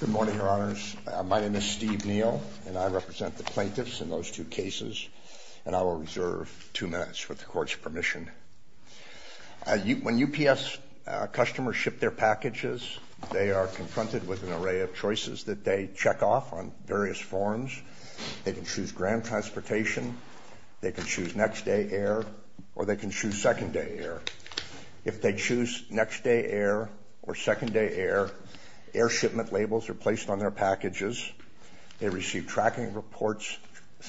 Good morning, Your Honors. My name is Steve Neal, and I represent the plaintiffs in those two cases, and I will reserve two minutes with the Court's permission. When UPS customers ship their packages, they are confronted with an array of choices that they check off on various forms. They can choose grand transportation, they can choose next-day air, or they can choose second-day air. If they choose next-day air or second-day air, air shipment labels are placed on their packages. They receive tracking reports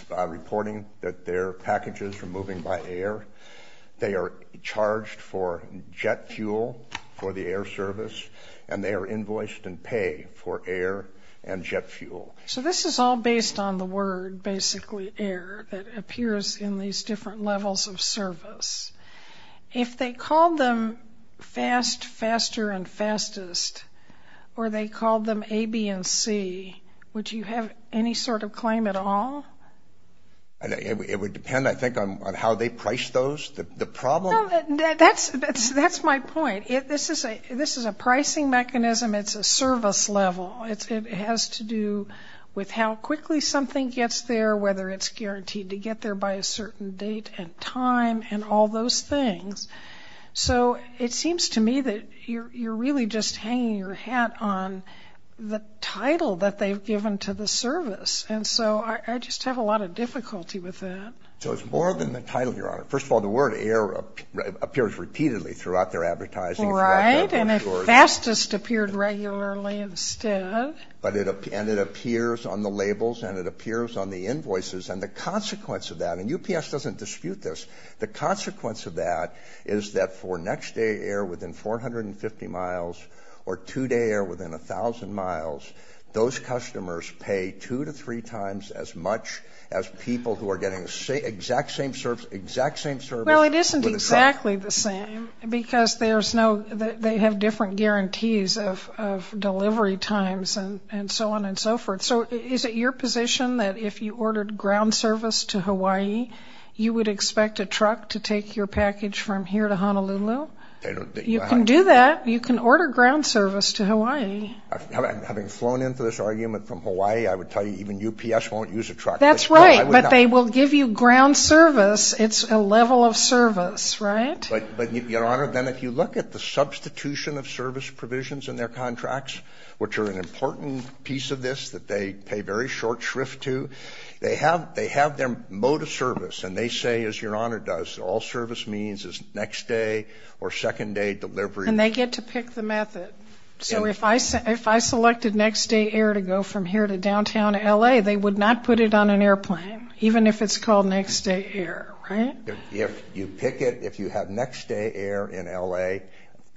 reporting that their packages are moving by air. They are charged for jet fuel for the air service, and they are invoiced in pay for air and jet fuel. So this is all based on the word, basically, air, that appears in these different levels of service. If they called them fast, faster, and fastest, or they called them A, B, and C, would you have any sort of claim at all? It would depend, I think, on how they priced those, the problem. No, that's my point. This is a pricing mechanism. It's a service level. It has to do with how quickly something gets there, whether it's guaranteed to get there by a certain date and time, and all those things. So it seems to me that you're really just hanging your hat on the title that they've given to the service. And so I just have a lot of difficulty with that. So it's more than the title, Your Honor. First of all, the word, air, appears repeatedly throughout their advertising. Right, and fastest appeared regularly instead. And it appears on the labels, and it appears on the invoices. And the consequence of that, and UPS doesn't dispute this, the consequence of that is that for next day air within 450 miles, or two-day air within 1,000 miles, those customers pay two to three times as much as people who are getting exact same service. Well, it isn't exactly the same, because they have different guarantees of delivery times and so on and so forth. So is it your position that if you ordered ground service to Hawaii, you would expect a truck to take your package from here to Honolulu? You can do that. You can order ground service to Hawaii. Having flown into this argument from Hawaii, I would tell you even UPS won't use a truck. That's right, but they will give you ground service. It's a level of service, right? But, Your Honor, then if you look at the substitution of service provisions in their contracts, which are an important piece of this that they pay very short shrift to, they have their mode of service, and they say, as Your Honor does, all service means is next day or second day delivery. And they get to pick the method. So if I selected next day air to go from here to downtown L.A., they would not put it on an airplane, even if it's called next day air, right? If you pick it, if you have next day air in L.A.,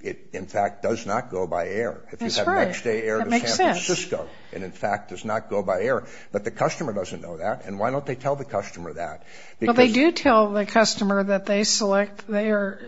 it, in fact, does not go by air. That's right. That makes sense. If you have next day air to San Francisco, it, in fact, does not go by air. But the customer doesn't know that, and why don't they tell the customer that? Well, they do tell the customer that they select, they are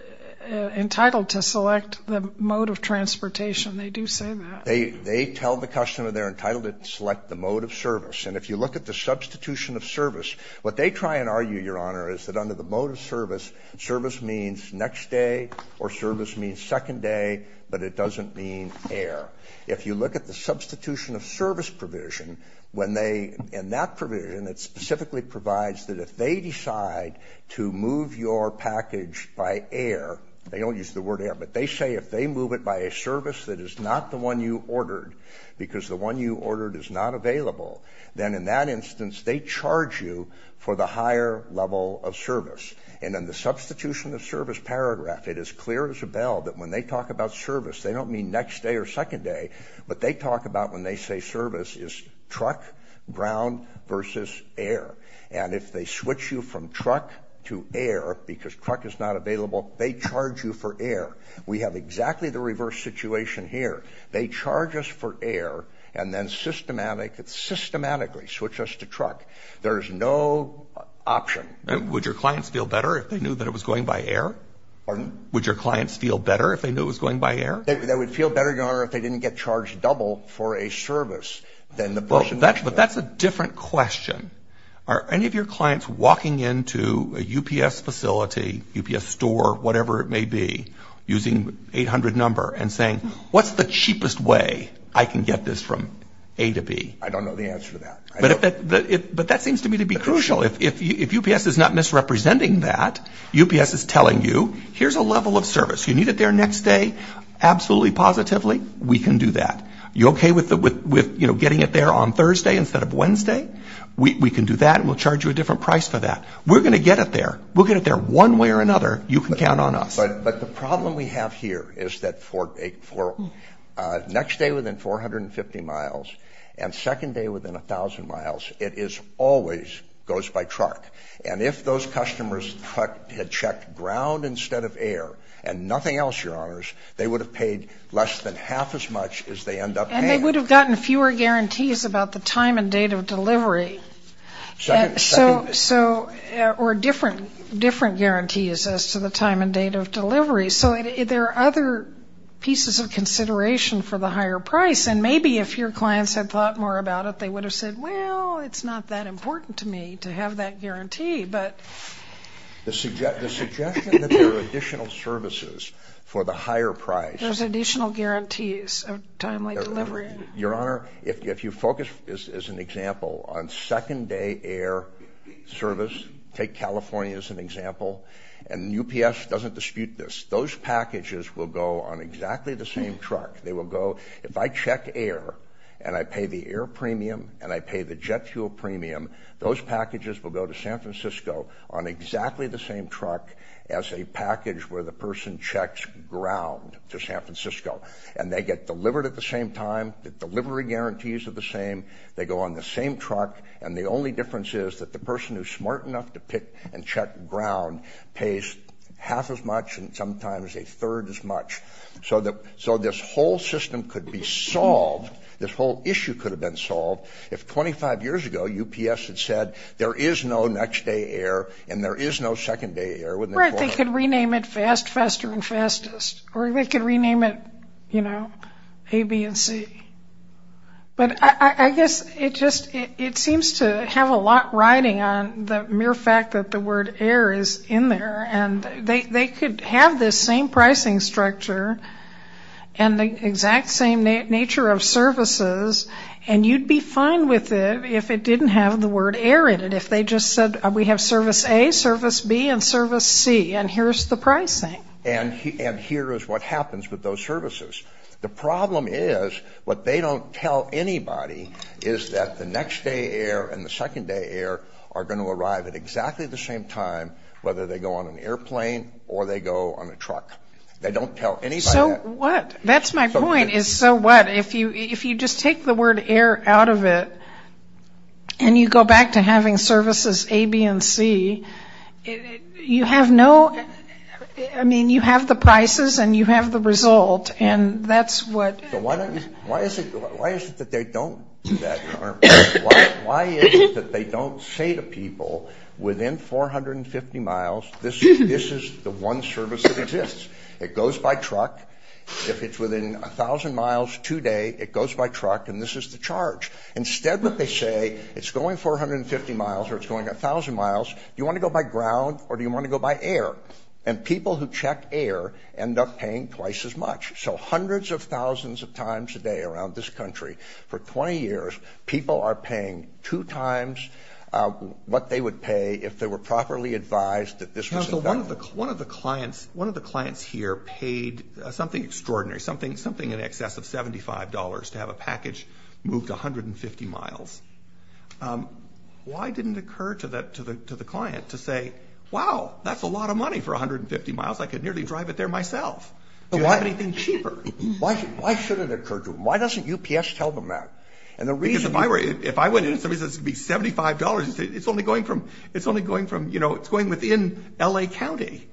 entitled to select the mode of transportation. They do say that. They tell the customer they're entitled to select the mode of service. And if you look at the substitution of service, what they try and argue, Your Honor, is that under the mode of service, service means next day or service means second day, but it doesn't mean air. If you look at the substitution of service provision, when they, in that provision, it specifically provides that if they decide to move your package by air, they don't use the word air, but they say if they move it by a service that is not the one you ordered because the one you ordered is not available, then in that instance they charge you for the higher level of service. And in the substitution of service paragraph, it is clear as a bell that when they talk about service, they don't mean next day or second day, what they talk about when they say service is truck, ground versus air. And if they switch you from truck to air because truck is not available, they charge you for air. We have exactly the reverse situation here. They charge us for air and then systematically switch us to truck. There is no option. Would your clients feel better if they knew that it was going by air? Pardon? Would your clients feel better if they knew it was going by air? They would feel better, Your Honor, if they didn't get charged double for a service than the person. But that's a different question. Are any of your clients walking into a UPS facility, UPS store, whatever it may be, using 800 number and saying, what's the cheapest way I can get this from A to B? I don't know the answer to that. But that seems to me to be crucial. If UPS is not misrepresenting that, UPS is telling you, here's a level of service. You need it there next day, absolutely positively, we can do that. You okay with getting it there on Thursday instead of Wednesday? We can do that and we'll charge you a different price for that. We're going to get it there. We'll get it there one way or another. You can count on us. But the problem we have here is that for next day within 450 miles and second day within 1,000 miles, it always goes by truck. And if those customers had checked ground instead of air and nothing else, Your Honors, they would have paid less than half as much as they end up paying. And they would have gotten fewer guarantees about the time and date of delivery. Or different guarantees as to the time and date of delivery. So there are other pieces of consideration for the higher price. And maybe if your clients had thought more about it, they would have said, well, it's not that important to me to have that guarantee, but. The suggestion that there are additional services for the higher price. There's additional guarantees of timely delivery. Your Honor, if you focus, as an example, on second day air service, take California as an example, and UPS doesn't dispute this, those packages will go on exactly the same truck. They will go, if I check air and I pay the air premium and I pay the jet fuel premium, those packages will go to San Francisco on exactly the same truck as a package where the person checks ground to San Francisco. And they get delivered at the same time. The delivery guarantees are the same. They go on the same truck. And the only difference is that the person who's smart enough to pick and check ground pays half as much and sometimes a third as much. So this whole system could be solved, this whole issue could have been solved, if 25 years ago UPS had said there is no next day air and there is no second day air. Right, they could rename it fast, faster, and fastest. Or they could rename it, you know, A, B, and C. But I guess it just seems to have a lot riding on the mere fact that the word air is in there. And they could have this same pricing structure and the exact same nature of services, and you'd be fine with it if it didn't have the word air in it. If they just said we have service A, service B, and service C, and here's the pricing. And here is what happens with those services. The problem is what they don't tell anybody is that the next day air and the second day air are going to arrive at exactly the same time whether they go on an airplane or they go on a truck. They don't tell anybody that. So what? That's my point is so what? If you just take the word air out of it and you go back to having services A, B, and C, you have no, I mean you have the prices and you have the result and that's what. So why is it that they don't say to people within 450 miles this is the one service that exists? It goes by truck. If it's within 1,000 miles today, it goes by truck and this is the charge. Instead what they say, it's going 450 miles or it's going 1,000 miles, do you want to go by ground or do you want to go by air? And people who check air end up paying twice as much. So hundreds of thousands of times a day around this country for 20 years, people are paying two times what they would pay if they were properly advised that this was available. So one of the clients here paid something extraordinary, something in excess of $75 to have a package moved 150 miles. Why didn't it occur to the client to say, wow, that's a lot of money for 150 miles. I could nearly drive it there myself. Do you have anything cheaper? Why should it occur to them? Why doesn't UPS tell them that? Because if I went in and somebody says it's going to be $75, it's only going from, you know, it's going within L.A. County.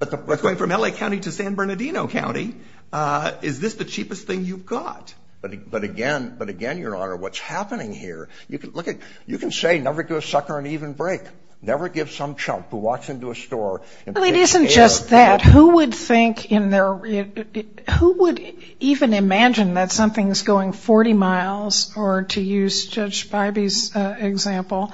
It's going from L.A. County to San Bernardino County. Is this the cheapest thing you've got? But again, Your Honor, what's happening here, you can say never give a sucker an even break. Never give some chump who walks into a store and pays air. Well, it isn't just that. Who would think in their, who would even imagine that something's going 40 miles, or to use Judge Spivey's example,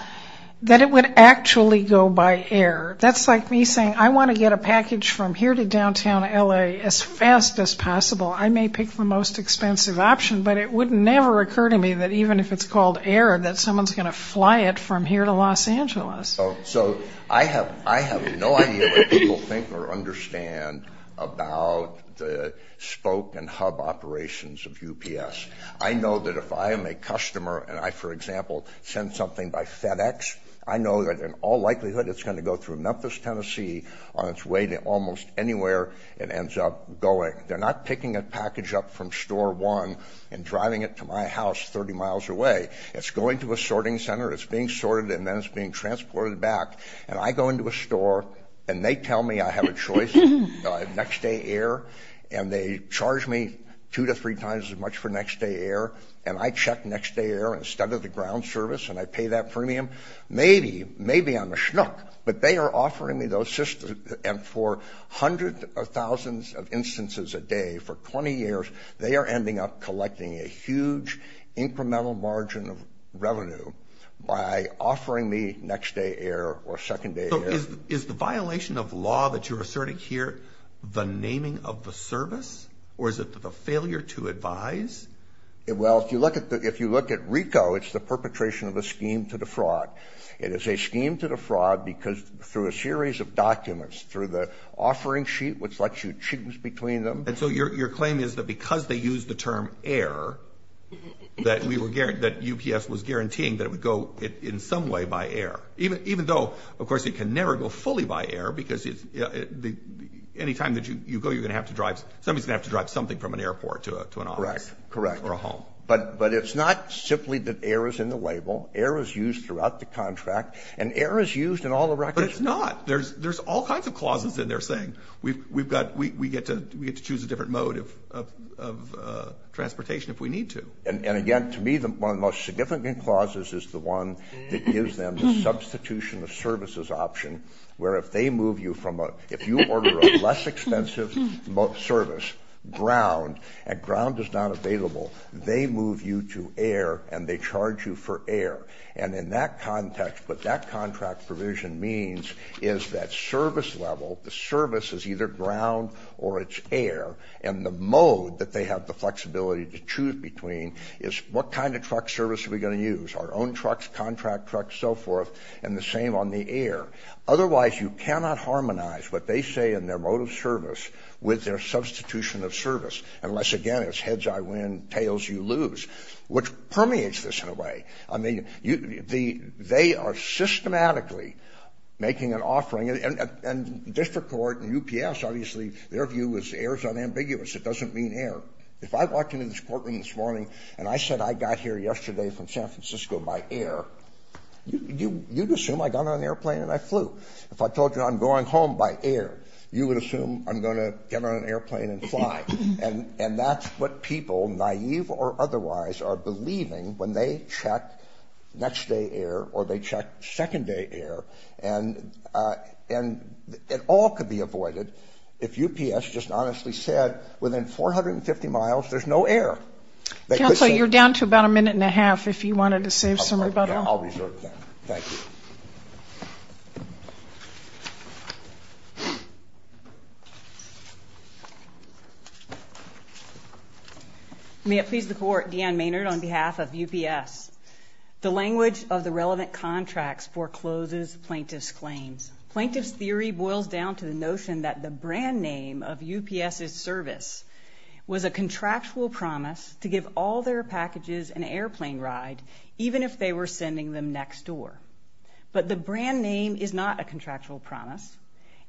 that it would actually go by air? That's like me saying I want to get a package from here to downtown L.A. as fast as possible. I may pick the most expensive option, but it would never occur to me that even if it's called air that someone's going to fly it from here to Los Angeles. So I have no idea what people think or understand about the spoke and hub operations of UPS. I know that if I am a customer and I, for example, send something by FedEx, I know that in all likelihood it's going to go through Memphis, Tennessee on its way to almost anywhere it ends up going. They're not picking a package up from Store 1 and driving it to my house 30 miles away. It's going to a sorting center, it's being sorted, and then it's being transported back. And I go into a store and they tell me I have a choice, next day air, and they charge me two to three times as much for next day air, and I check next day air instead of the ground service and I pay that premium. Maybe, maybe I'm a schnook, but they are offering me those systems. And for hundreds of thousands of instances a day for 20 years, they are ending up collecting a huge incremental margin of revenue by offering me next day air or second day air. So is the violation of law that you're asserting here the naming of the service, or is it the failure to advise? Well, if you look at RICO, it's the perpetration of a scheme to defraud. It is a scheme to defraud because through a series of documents, through the offering sheet which lets you choose between them. And so your claim is that because they use the term air, that UPS was guaranteeing that it would go in some way by air, even though, of course, it can never go fully by air because any time that you go, you're going to have to drive, somebody's going to have to drive something from an airport to an office. Correct, correct. Or a home. But it's not simply that air is in the label. Air is used throughout the contract, and air is used in all the records. But it's not. There's all kinds of clauses in there saying, we get to choose a different mode of transportation if we need to. And again, to me, one of the most significant clauses is the one that gives them the substitution of services option, where if they move you from a, if you order a less expensive service, ground, and ground is not available, they move you to air and they charge you for air. And in that context, what that contract provision means is that service level, the service is either ground or it's air, and the mode that they have the flexibility to choose between is what kind of truck service are we going to use, our own trucks, contract trucks, so forth, and the same on the air. Otherwise, you cannot harmonize what they say in their mode of service with their substitution of service, unless, again, it's heads I win, tails you lose, which permeates this in a way. I mean, they are systematically making an offering. And district court and UPS, obviously, their view is air is unambiguous. It doesn't mean air. If I walked into this courtroom this morning and I said I got here yesterday from San Francisco by air, you'd assume I got on an airplane and I flew. If I told you I'm going home by air, you would assume I'm going to get on an airplane and fly. And that's what people, naive or otherwise, are believing when they check next day air or they check second day air. And it all could be avoided if UPS just honestly said within 450 miles there's no air. Counsel, you're down to about a minute and a half if you wanted to save some rebuttal. I'll be short of time. Thank you. May it please the court. Deanne Maynard on behalf of UPS. The language of the relevant contracts forecloses plaintiff's claims. Plaintiff's theory boils down to the notion that the brand name of UPS's service was a contractual promise to give all their packages an airplane ride even if they were sending them next door. But the brand name is not a contractual promise.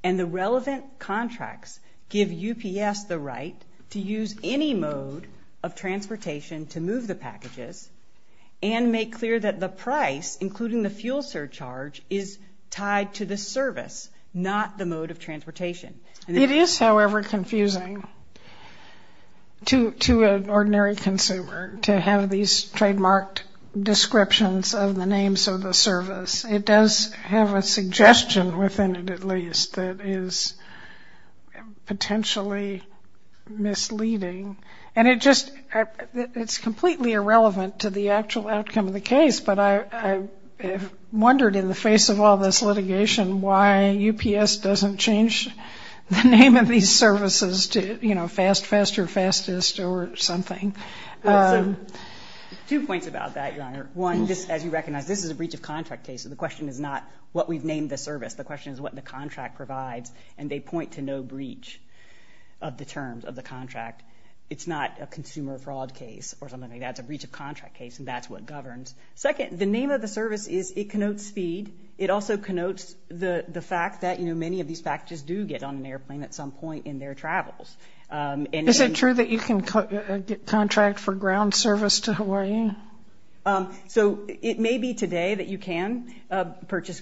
And the relevant contracts give UPS the right to use any mode of transportation to move the packages and make clear that the price, including the fuel surcharge, is tied to the service, not the mode of transportation. It is, however, confusing to an ordinary consumer to have these trademarked descriptions of the names of the service. It does have a suggestion within it, at least, that is potentially misleading. And it just ‑‑ it's completely irrelevant to the actual outcome of the case. But I wondered in the face of all this litigation why UPS doesn't change the name of these services to, you know, Fast Fest or Fastest or something. Two points about that, Your Honor. One, as you recognize, this is a breach of contract case. The question is not what we've named the service. The question is what the contract provides. And they point to no breach of the terms of the contract. It's not a consumer fraud case or something like that. It's a breach of contract case, and that's what governs. Second, the name of the service is ‑‑ it connotes speed. It also connotes the fact that, you know, many of these packages do get on an airplane at some point in their travels. Is it true that you can contract for ground service to Hawaii? So it may be today that you can purchase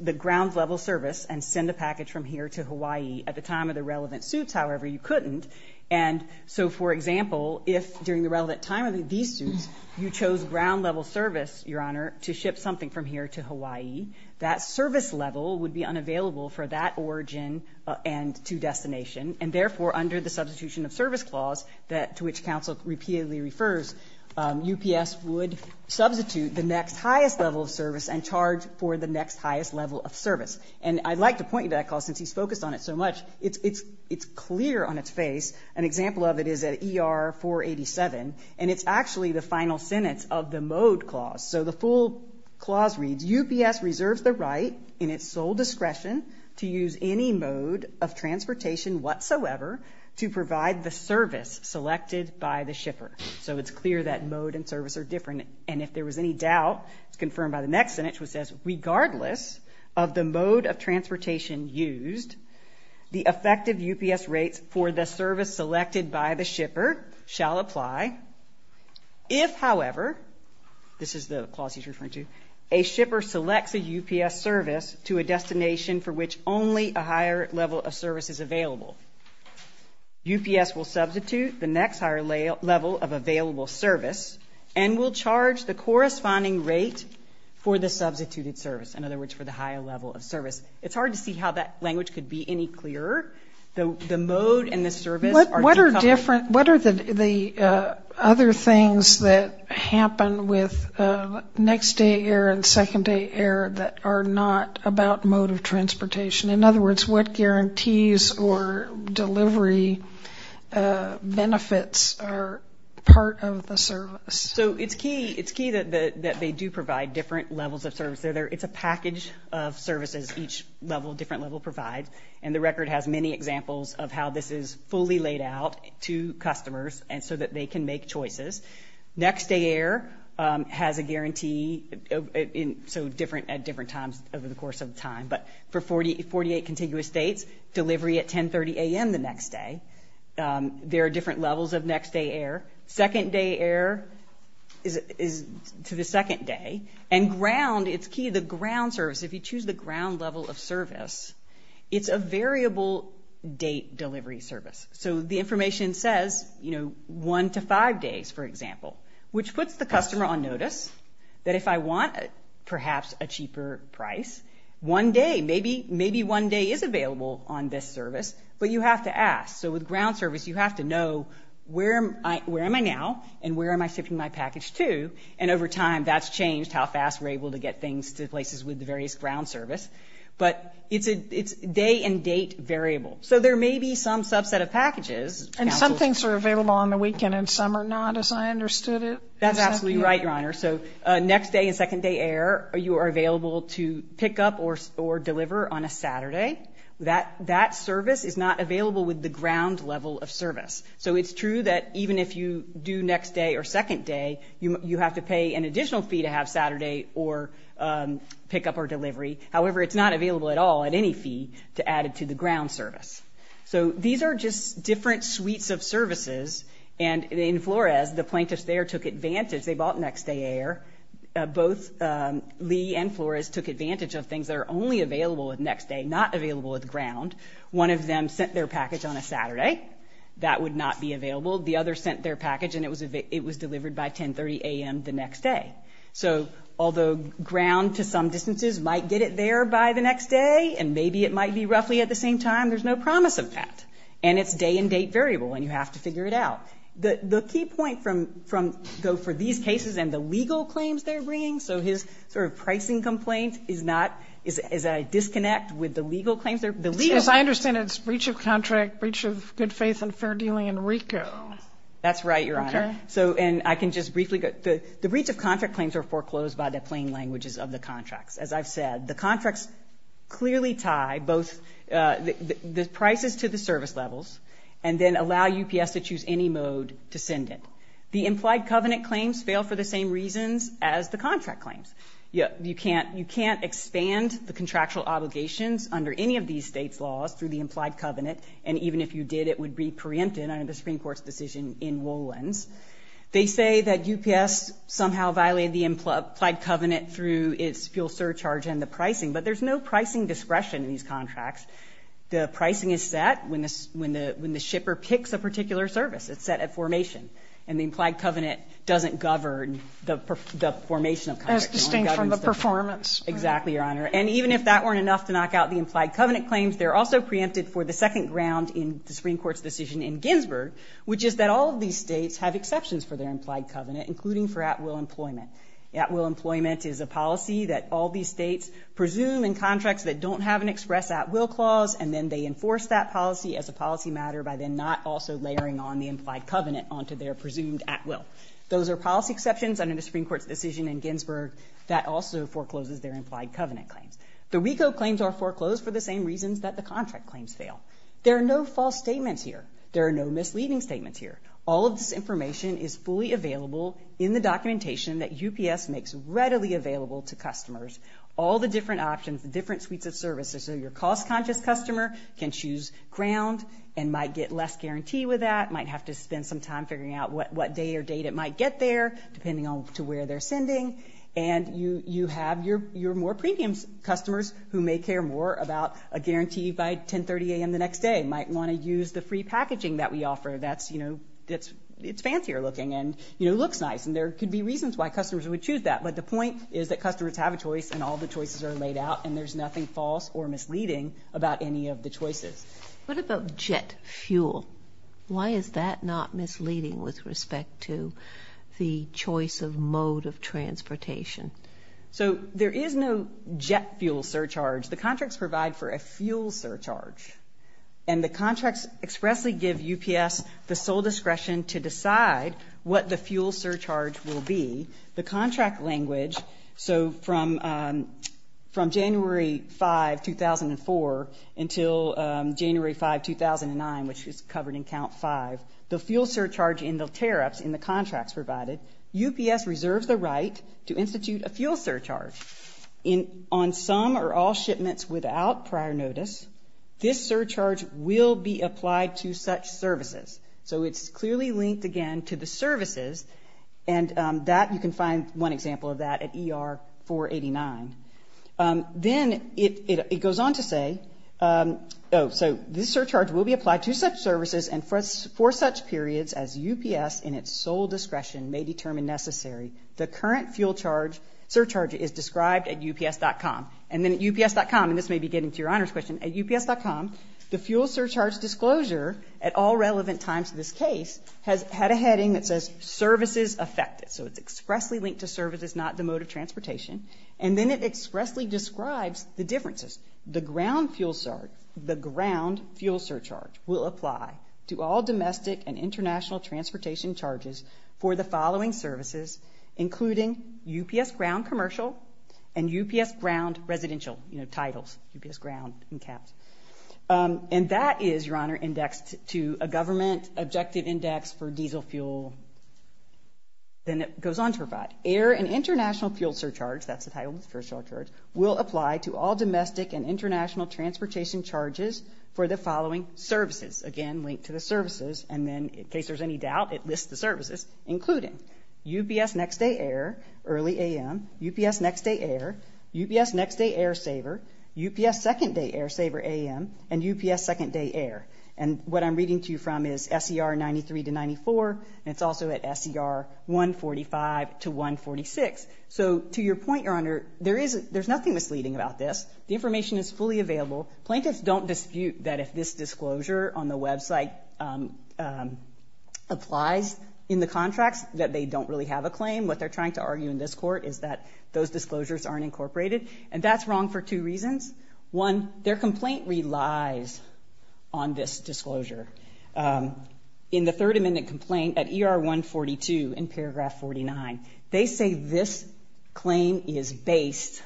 the ground level service and send a package from here to Hawaii. At the time of the relevant suits, however, you couldn't. And so, for example, if during the relevant time of these suits you chose ground level service, Your Honor, to ship something from here to Hawaii, that service level would be unavailable for that origin and to destination. And therefore, under the substitution of service clause to which counsel repeatedly refers, UPS would substitute the next highest level of service and charge for the next highest level of service. And I'd like to point you to that clause since he's focused on it so much. It's clear on its face. An example of it is at ER 487, and it's actually the final sentence of the mode clause. So the full clause reads, UPS reserves the right in its sole discretion to use any mode of transportation whatsoever to provide the service selected by the shipper. So it's clear that mode and service are different. And if there was any doubt, it's confirmed by the next sentence which says, regardless of the mode of transportation used, the effective UPS rates for the service selected by the shipper shall apply. If, however, this is the clause he's referring to, a shipper selects a UPS service to a destination for which only a higher level of service is available, UPS will substitute the next higher level of available service and will charge the corresponding rate for the substituted service. In other words, for the higher level of service. It's hard to see how that language could be any clearer. The mode and the service are different. What are the other things that happen with next day air and second day air that are not about mode of transportation? In other words, what guarantees or delivery benefits are part of the service? So it's key that they do provide different levels of service. It's a package of services each level, different level provides. And the record has many examples of how this is fully laid out to customers so that they can make choices. Next day air has a guarantee, so different at different times over the course of time. But for 48 contiguous dates, delivery at 10.30 a.m. the next day. There are different levels of next day air. Second day air is to the second day. And ground, it's key, the ground service, if you choose the ground level of service, it's a variable date delivery service. So the information says, you know, one to five days, for example, which puts the customer on notice that if I want perhaps a cheaper price, one day, maybe one day is available on this service, but you have to ask. So with ground service, you have to know where am I now and where am I shifting my package to, and over time that's changed how fast we're able to get things to places with the various ground service. But it's a day and date variable. So there may be some subset of packages. And some things are available on the weekend and some are not, as I understood it. That's absolutely right, Your Honor. So next day and second day air, you are available to pick up or deliver on a Saturday. That service is not available with the ground level of service. So it's true that even if you do next day or second day, you have to pay an additional fee to have Saturday or pick up or delivery. However, it's not available at all at any fee to add it to the ground service. So these are just different suites of services. And in Flores, the plaintiffs there took advantage. They bought next day air. Both Lee and Flores took advantage of things that are only available with next day, not available with ground. One of them sent their package on a Saturday. That would not be available. The other sent their package and it was delivered by 10.30 a.m. the next day. So although ground to some distances might get it there by the next day and maybe it might be roughly at the same time, there's no promise of that. And it's day and date variable and you have to figure it out. The key point for these cases and the legal claims they're bringing, so his sort of pricing complaint is not as I disconnect with the legal claims. As I understand it, it's breach of contract, breach of good faith and fair dealing in RICO. That's right, Your Honor. And I can just briefly go. The breach of contract claims are foreclosed by the plain languages of the contracts. As I've said, the contracts clearly tie both the prices to the service levels and then allow UPS to choose any mode to send it. The implied covenant claims fail for the same reasons as the contract claims. You can't expand the contractual obligations under any of these states' laws through the implied covenant. And even if you did, it would be preempted under the Supreme Court's decision in Wolens. They say that UPS somehow violated the implied covenant through its fuel surcharge and the pricing. But there's no pricing discretion in these contracts. The pricing is set when the shipper picks a particular service. It's set at formation. And the implied covenant doesn't govern the formation of contracts. As distinct from the performance. Exactly, Your Honor. And even if that weren't enough to knock out the implied covenant claims, they're also preempted for the second round in the Supreme Court's decision in Ginsburg, which is that all of these states have exceptions for their implied covenant, including for at-will employment. At-will employment is a policy that all these states presume in contracts that don't have an express at-will clause, and then they enforce that policy as a policy matter by then not also layering on the implied covenant onto their presumed at-will. Those are policy exceptions under the Supreme Court's decision in Ginsburg that also forecloses their implied covenant claims. The WECO claims are foreclosed for the same reasons that the contract claims fail. There are no false statements here. There are no misleading statements here. All of this information is fully available in the documentation that UPS makes readily available to customers. All the different options, the different suites of services, so your cost-conscious customer can choose ground and might get less guarantee with that, might have to spend some time figuring out what day or date it might get there, depending on to where they're sending. And you have your more premium customers who may care more about a guarantee by 1030 a.m. the next day, and might want to use the free packaging that we offer that's, you know, it's fancier looking and, you know, looks nice. And there could be reasons why customers would choose that, but the point is that customers have a choice and all the choices are laid out and there's nothing false or misleading about any of the choices. What about jet fuel? Why is that not misleading with respect to the choice of mode of transportation? So there is no jet fuel surcharge. The contracts provide for a fuel surcharge, and the contracts expressly give UPS the sole discretion to decide what the fuel surcharge will be. The contract language, so from January 5, 2004, until January 5, 2009, which is covered in Count 5, the fuel surcharge in the tariffs in the contracts provided, UPS reserves the right to institute a fuel surcharge. On some or all shipments without prior notice, this surcharge will be applied to such services. So it's clearly linked again to the services, and that you can find one example of that at ER 489. Then it goes on to say, oh, so this surcharge will be applied to such services and for such periods as UPS in its sole discretion may determine necessary, the current fuel surcharge is described at UPS.com. And then at UPS.com, and this may be getting to your honors question, at UPS.com the fuel surcharge disclosure at all relevant times in this case has had a heading that says services affected. So it's expressly linked to services, not the mode of transportation. And then it expressly describes the differences. The ground fuel surcharge will apply to all domestic and international transportation charges for the following services, including UPS ground commercial and UPS ground residential titles, UPS ground in caps. And that is, your honor, indexed to a government objective index for diesel fuel. Then it goes on to provide air and international fuel surcharge, that's the title of the fuel surcharge, will apply to all domestic and international transportation charges for the following services. Again, linked to the services, and then in case there's any doubt, it lists the services, including UPS next day air, early AM, UPS next day air, UPS next day air saver, UPS second day air saver AM, and UPS second day air. And what I'm reading to you from is SER 93 to 94, and it's also at SER 145 to 146. So to your point, your honor, there's nothing misleading about this. The information is fully available. Plaintiffs don't dispute that if this disclosure on the website applies in the contracts, that they don't really have a claim. What they're trying to argue in this court is that those disclosures aren't incorporated, and that's wrong for two reasons. One, their complaint relies on this disclosure. In the third amendment complaint at ER 142 in paragraph 49, they say this claim is based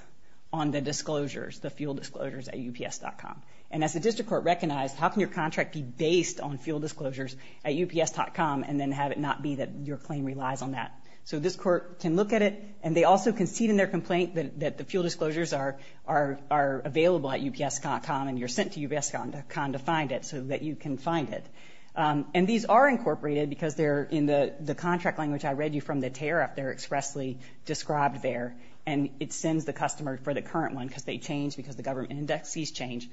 on the disclosures, the fuel disclosures at UPS.com. And as the district court recognized, how can your contract be based on fuel disclosures at UPS.com and then have it not be that your claim relies on that? So this court can look at it, and they also concede in their complaint that the fuel disclosures are available at UPS.com, and you're sent to UPS.com to find it so that you can find it. And these are incorporated because they're in the contract language I read you from the tear-up. They're expressly described there, and it sends the customer for the current one, because they change because the government indexes change,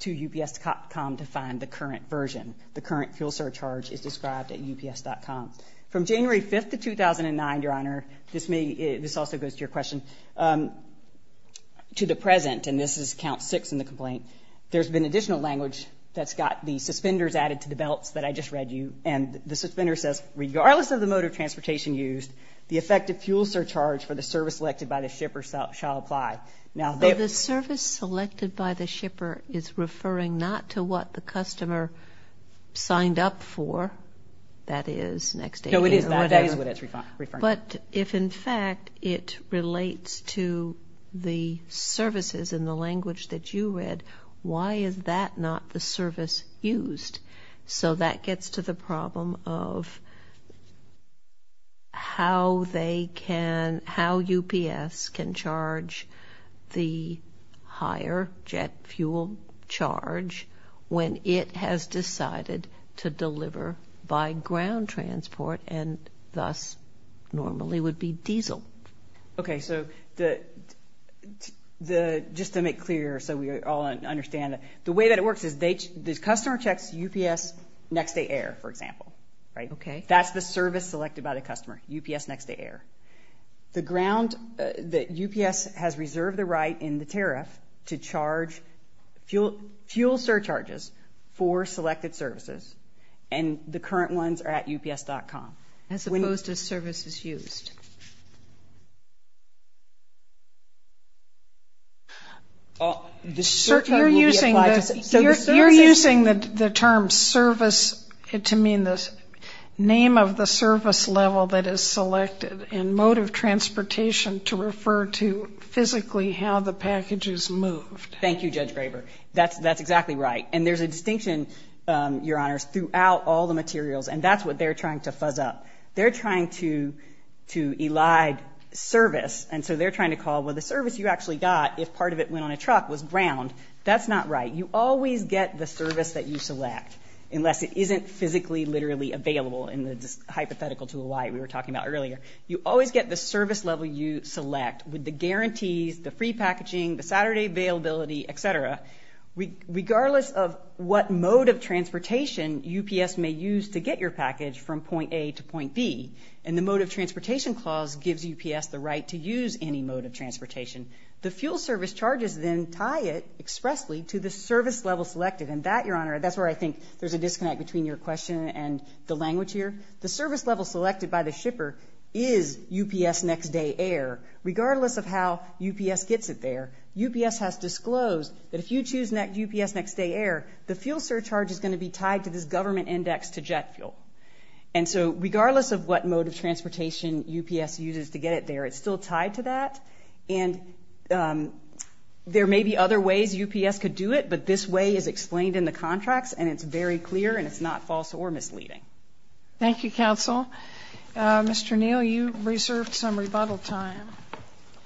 to UPS.com to find the current version. The current fuel surcharge is described at UPS.com. From January 5th of 2009, Your Honor, this also goes to your question, to the present, and this is count six in the complaint, there's been additional language that's got the suspenders added to the belts that I just read you, and the suspender says, regardless of the mode of transportation used, the effective fuel surcharge for the service selected by the shipper shall apply. Now, the service selected by the shipper is referring not to what the customer signed up for, that is, next day. No, it is not. That is what it's referring to. But if, in fact, it relates to the services in the language that you read, why is that not the service used? So that gets to the problem of how they can, how UPS can charge the higher jet fuel charge when it has decided to deliver by ground transport and thus normally would be diesel. Okay, so just to make clear so we all understand, the way that it works is the customer checks UPS Next Day Air, for example. Okay. That's the service selected by the customer, UPS Next Day Air. The ground that UPS has reserved the right in the tariff to charge fuel surcharges for selected services, and the current ones are at ups.com. As opposed to services used. You're using the term service to mean the name of the service level that is selected in mode of transportation to refer to physically how the package is moved. Thank you, Judge Graber. That's exactly right. And there's a distinction, Your Honors, throughout all the materials, and that's what they're trying to fuzz up. They're trying to elide service. And so they're trying to call, well, the service you actually got, if part of it went on a truck, was ground. That's not right. You always get the service that you select, unless it isn't physically, literally available, in the hypothetical to a lie we were talking about earlier. You always get the service level you select with the guarantees, the free packaging, the Saturday availability, et cetera. Regardless of what mode of transportation UPS may use to get your package from point A to point B, and the mode of transportation clause gives UPS the right to use any mode of transportation, the fuel service charges then tie it expressly to the service level selected. And that, Your Honor, that's where I think there's a disconnect between your question and the language here. The service level selected by the shipper is UPS next day air, regardless of how UPS gets it there. UPS has disclosed that if you choose UPS next day air, the fuel surcharge is going to be tied to this government index to jet fuel. And so regardless of what mode of transportation UPS uses to get it there, it's still tied to that. And there may be other ways UPS could do it, but this way is explained in the contracts, and it's very clear and it's not false or misleading. Thank you, Counsel. Mr. Neal, you reserved some rebuttal time.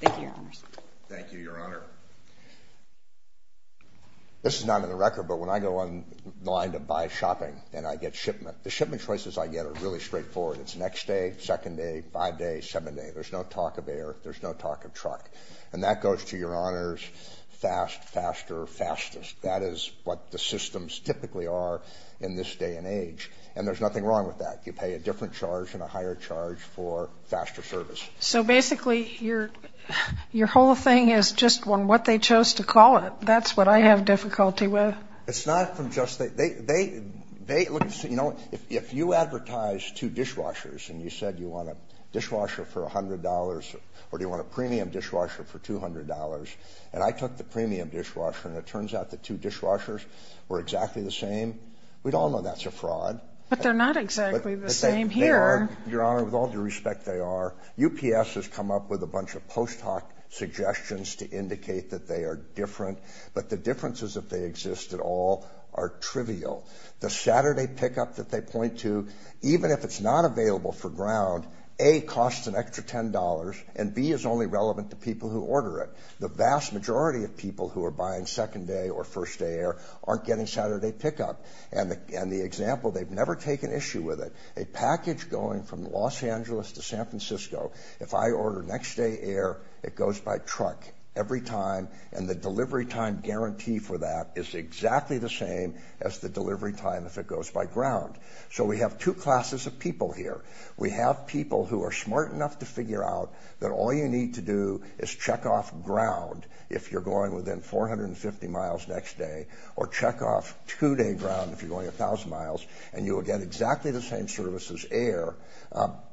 Thank you, Your Honors. Thank you, Your Honor. This is not in the record, but when I go on the line to buy shopping and I get shipment, the shipment choices I get are really straightforward. It's next day, second day, five day, seven day. There's no talk of air. There's no talk of truck. And that goes to Your Honors, fast, faster, fastest. That is what the systems typically are in this day and age, and there's nothing wrong with that. You pay a different charge and a higher charge for faster service. So basically your whole thing is just on what they chose to call it. That's what I have difficulty with. It's not from just that. You know, if you advertise two dishwashers and you said you want a dishwasher for $100 or do you want a premium dishwasher for $200, and I took the premium dishwasher and it turns out the two dishwashers were exactly the same, we'd all know that's a fraud. But they're not exactly the same here. They are, Your Honor. With all due respect, they are. UPS has come up with a bunch of post hoc suggestions to indicate that they are different, but the differences, if they exist at all, are trivial. The Saturday pickup that they point to, even if it's not available for ground, A, costs an extra $10, and B, is only relevant to people who order it. The vast majority of people who are buying second day or first day air aren't getting Saturday pickup. And the example, they've never taken issue with it. A package going from Los Angeles to San Francisco, if I order next day air, it goes by truck every time, and the delivery time guarantee for that is exactly the same as the delivery time if it goes by ground. So we have two classes of people here. We have people who are smart enough to figure out that all you need to do is check off ground if you're going within 450 miles next day, or check off two-day ground if you're going 1,000 miles, and you will get exactly the same service as air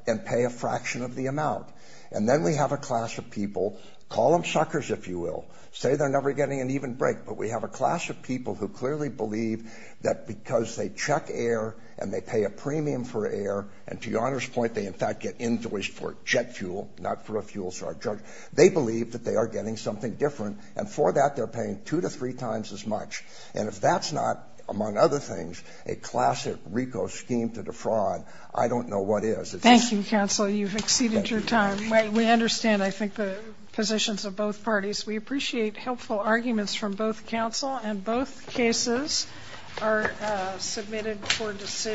and pay a fraction of the amount. And then we have a class of people, call them suckers if you will, say they're never getting an even break, but we have a class of people who clearly believe that because they check air and they pay a premium for air, and to your Honor's point, they in fact get invoiced for jet fuel, not for a fuel charge, they believe that they are getting something different, and for that they're paying two to three times as much. And if that's not, among other things, a classic RICO scheme to defraud, I don't know what is. Thank you, counsel. You've exceeded your time. We understand, I think, the positions of both parties. We appreciate helpful arguments from both counsel, and both cases are submitted for decision.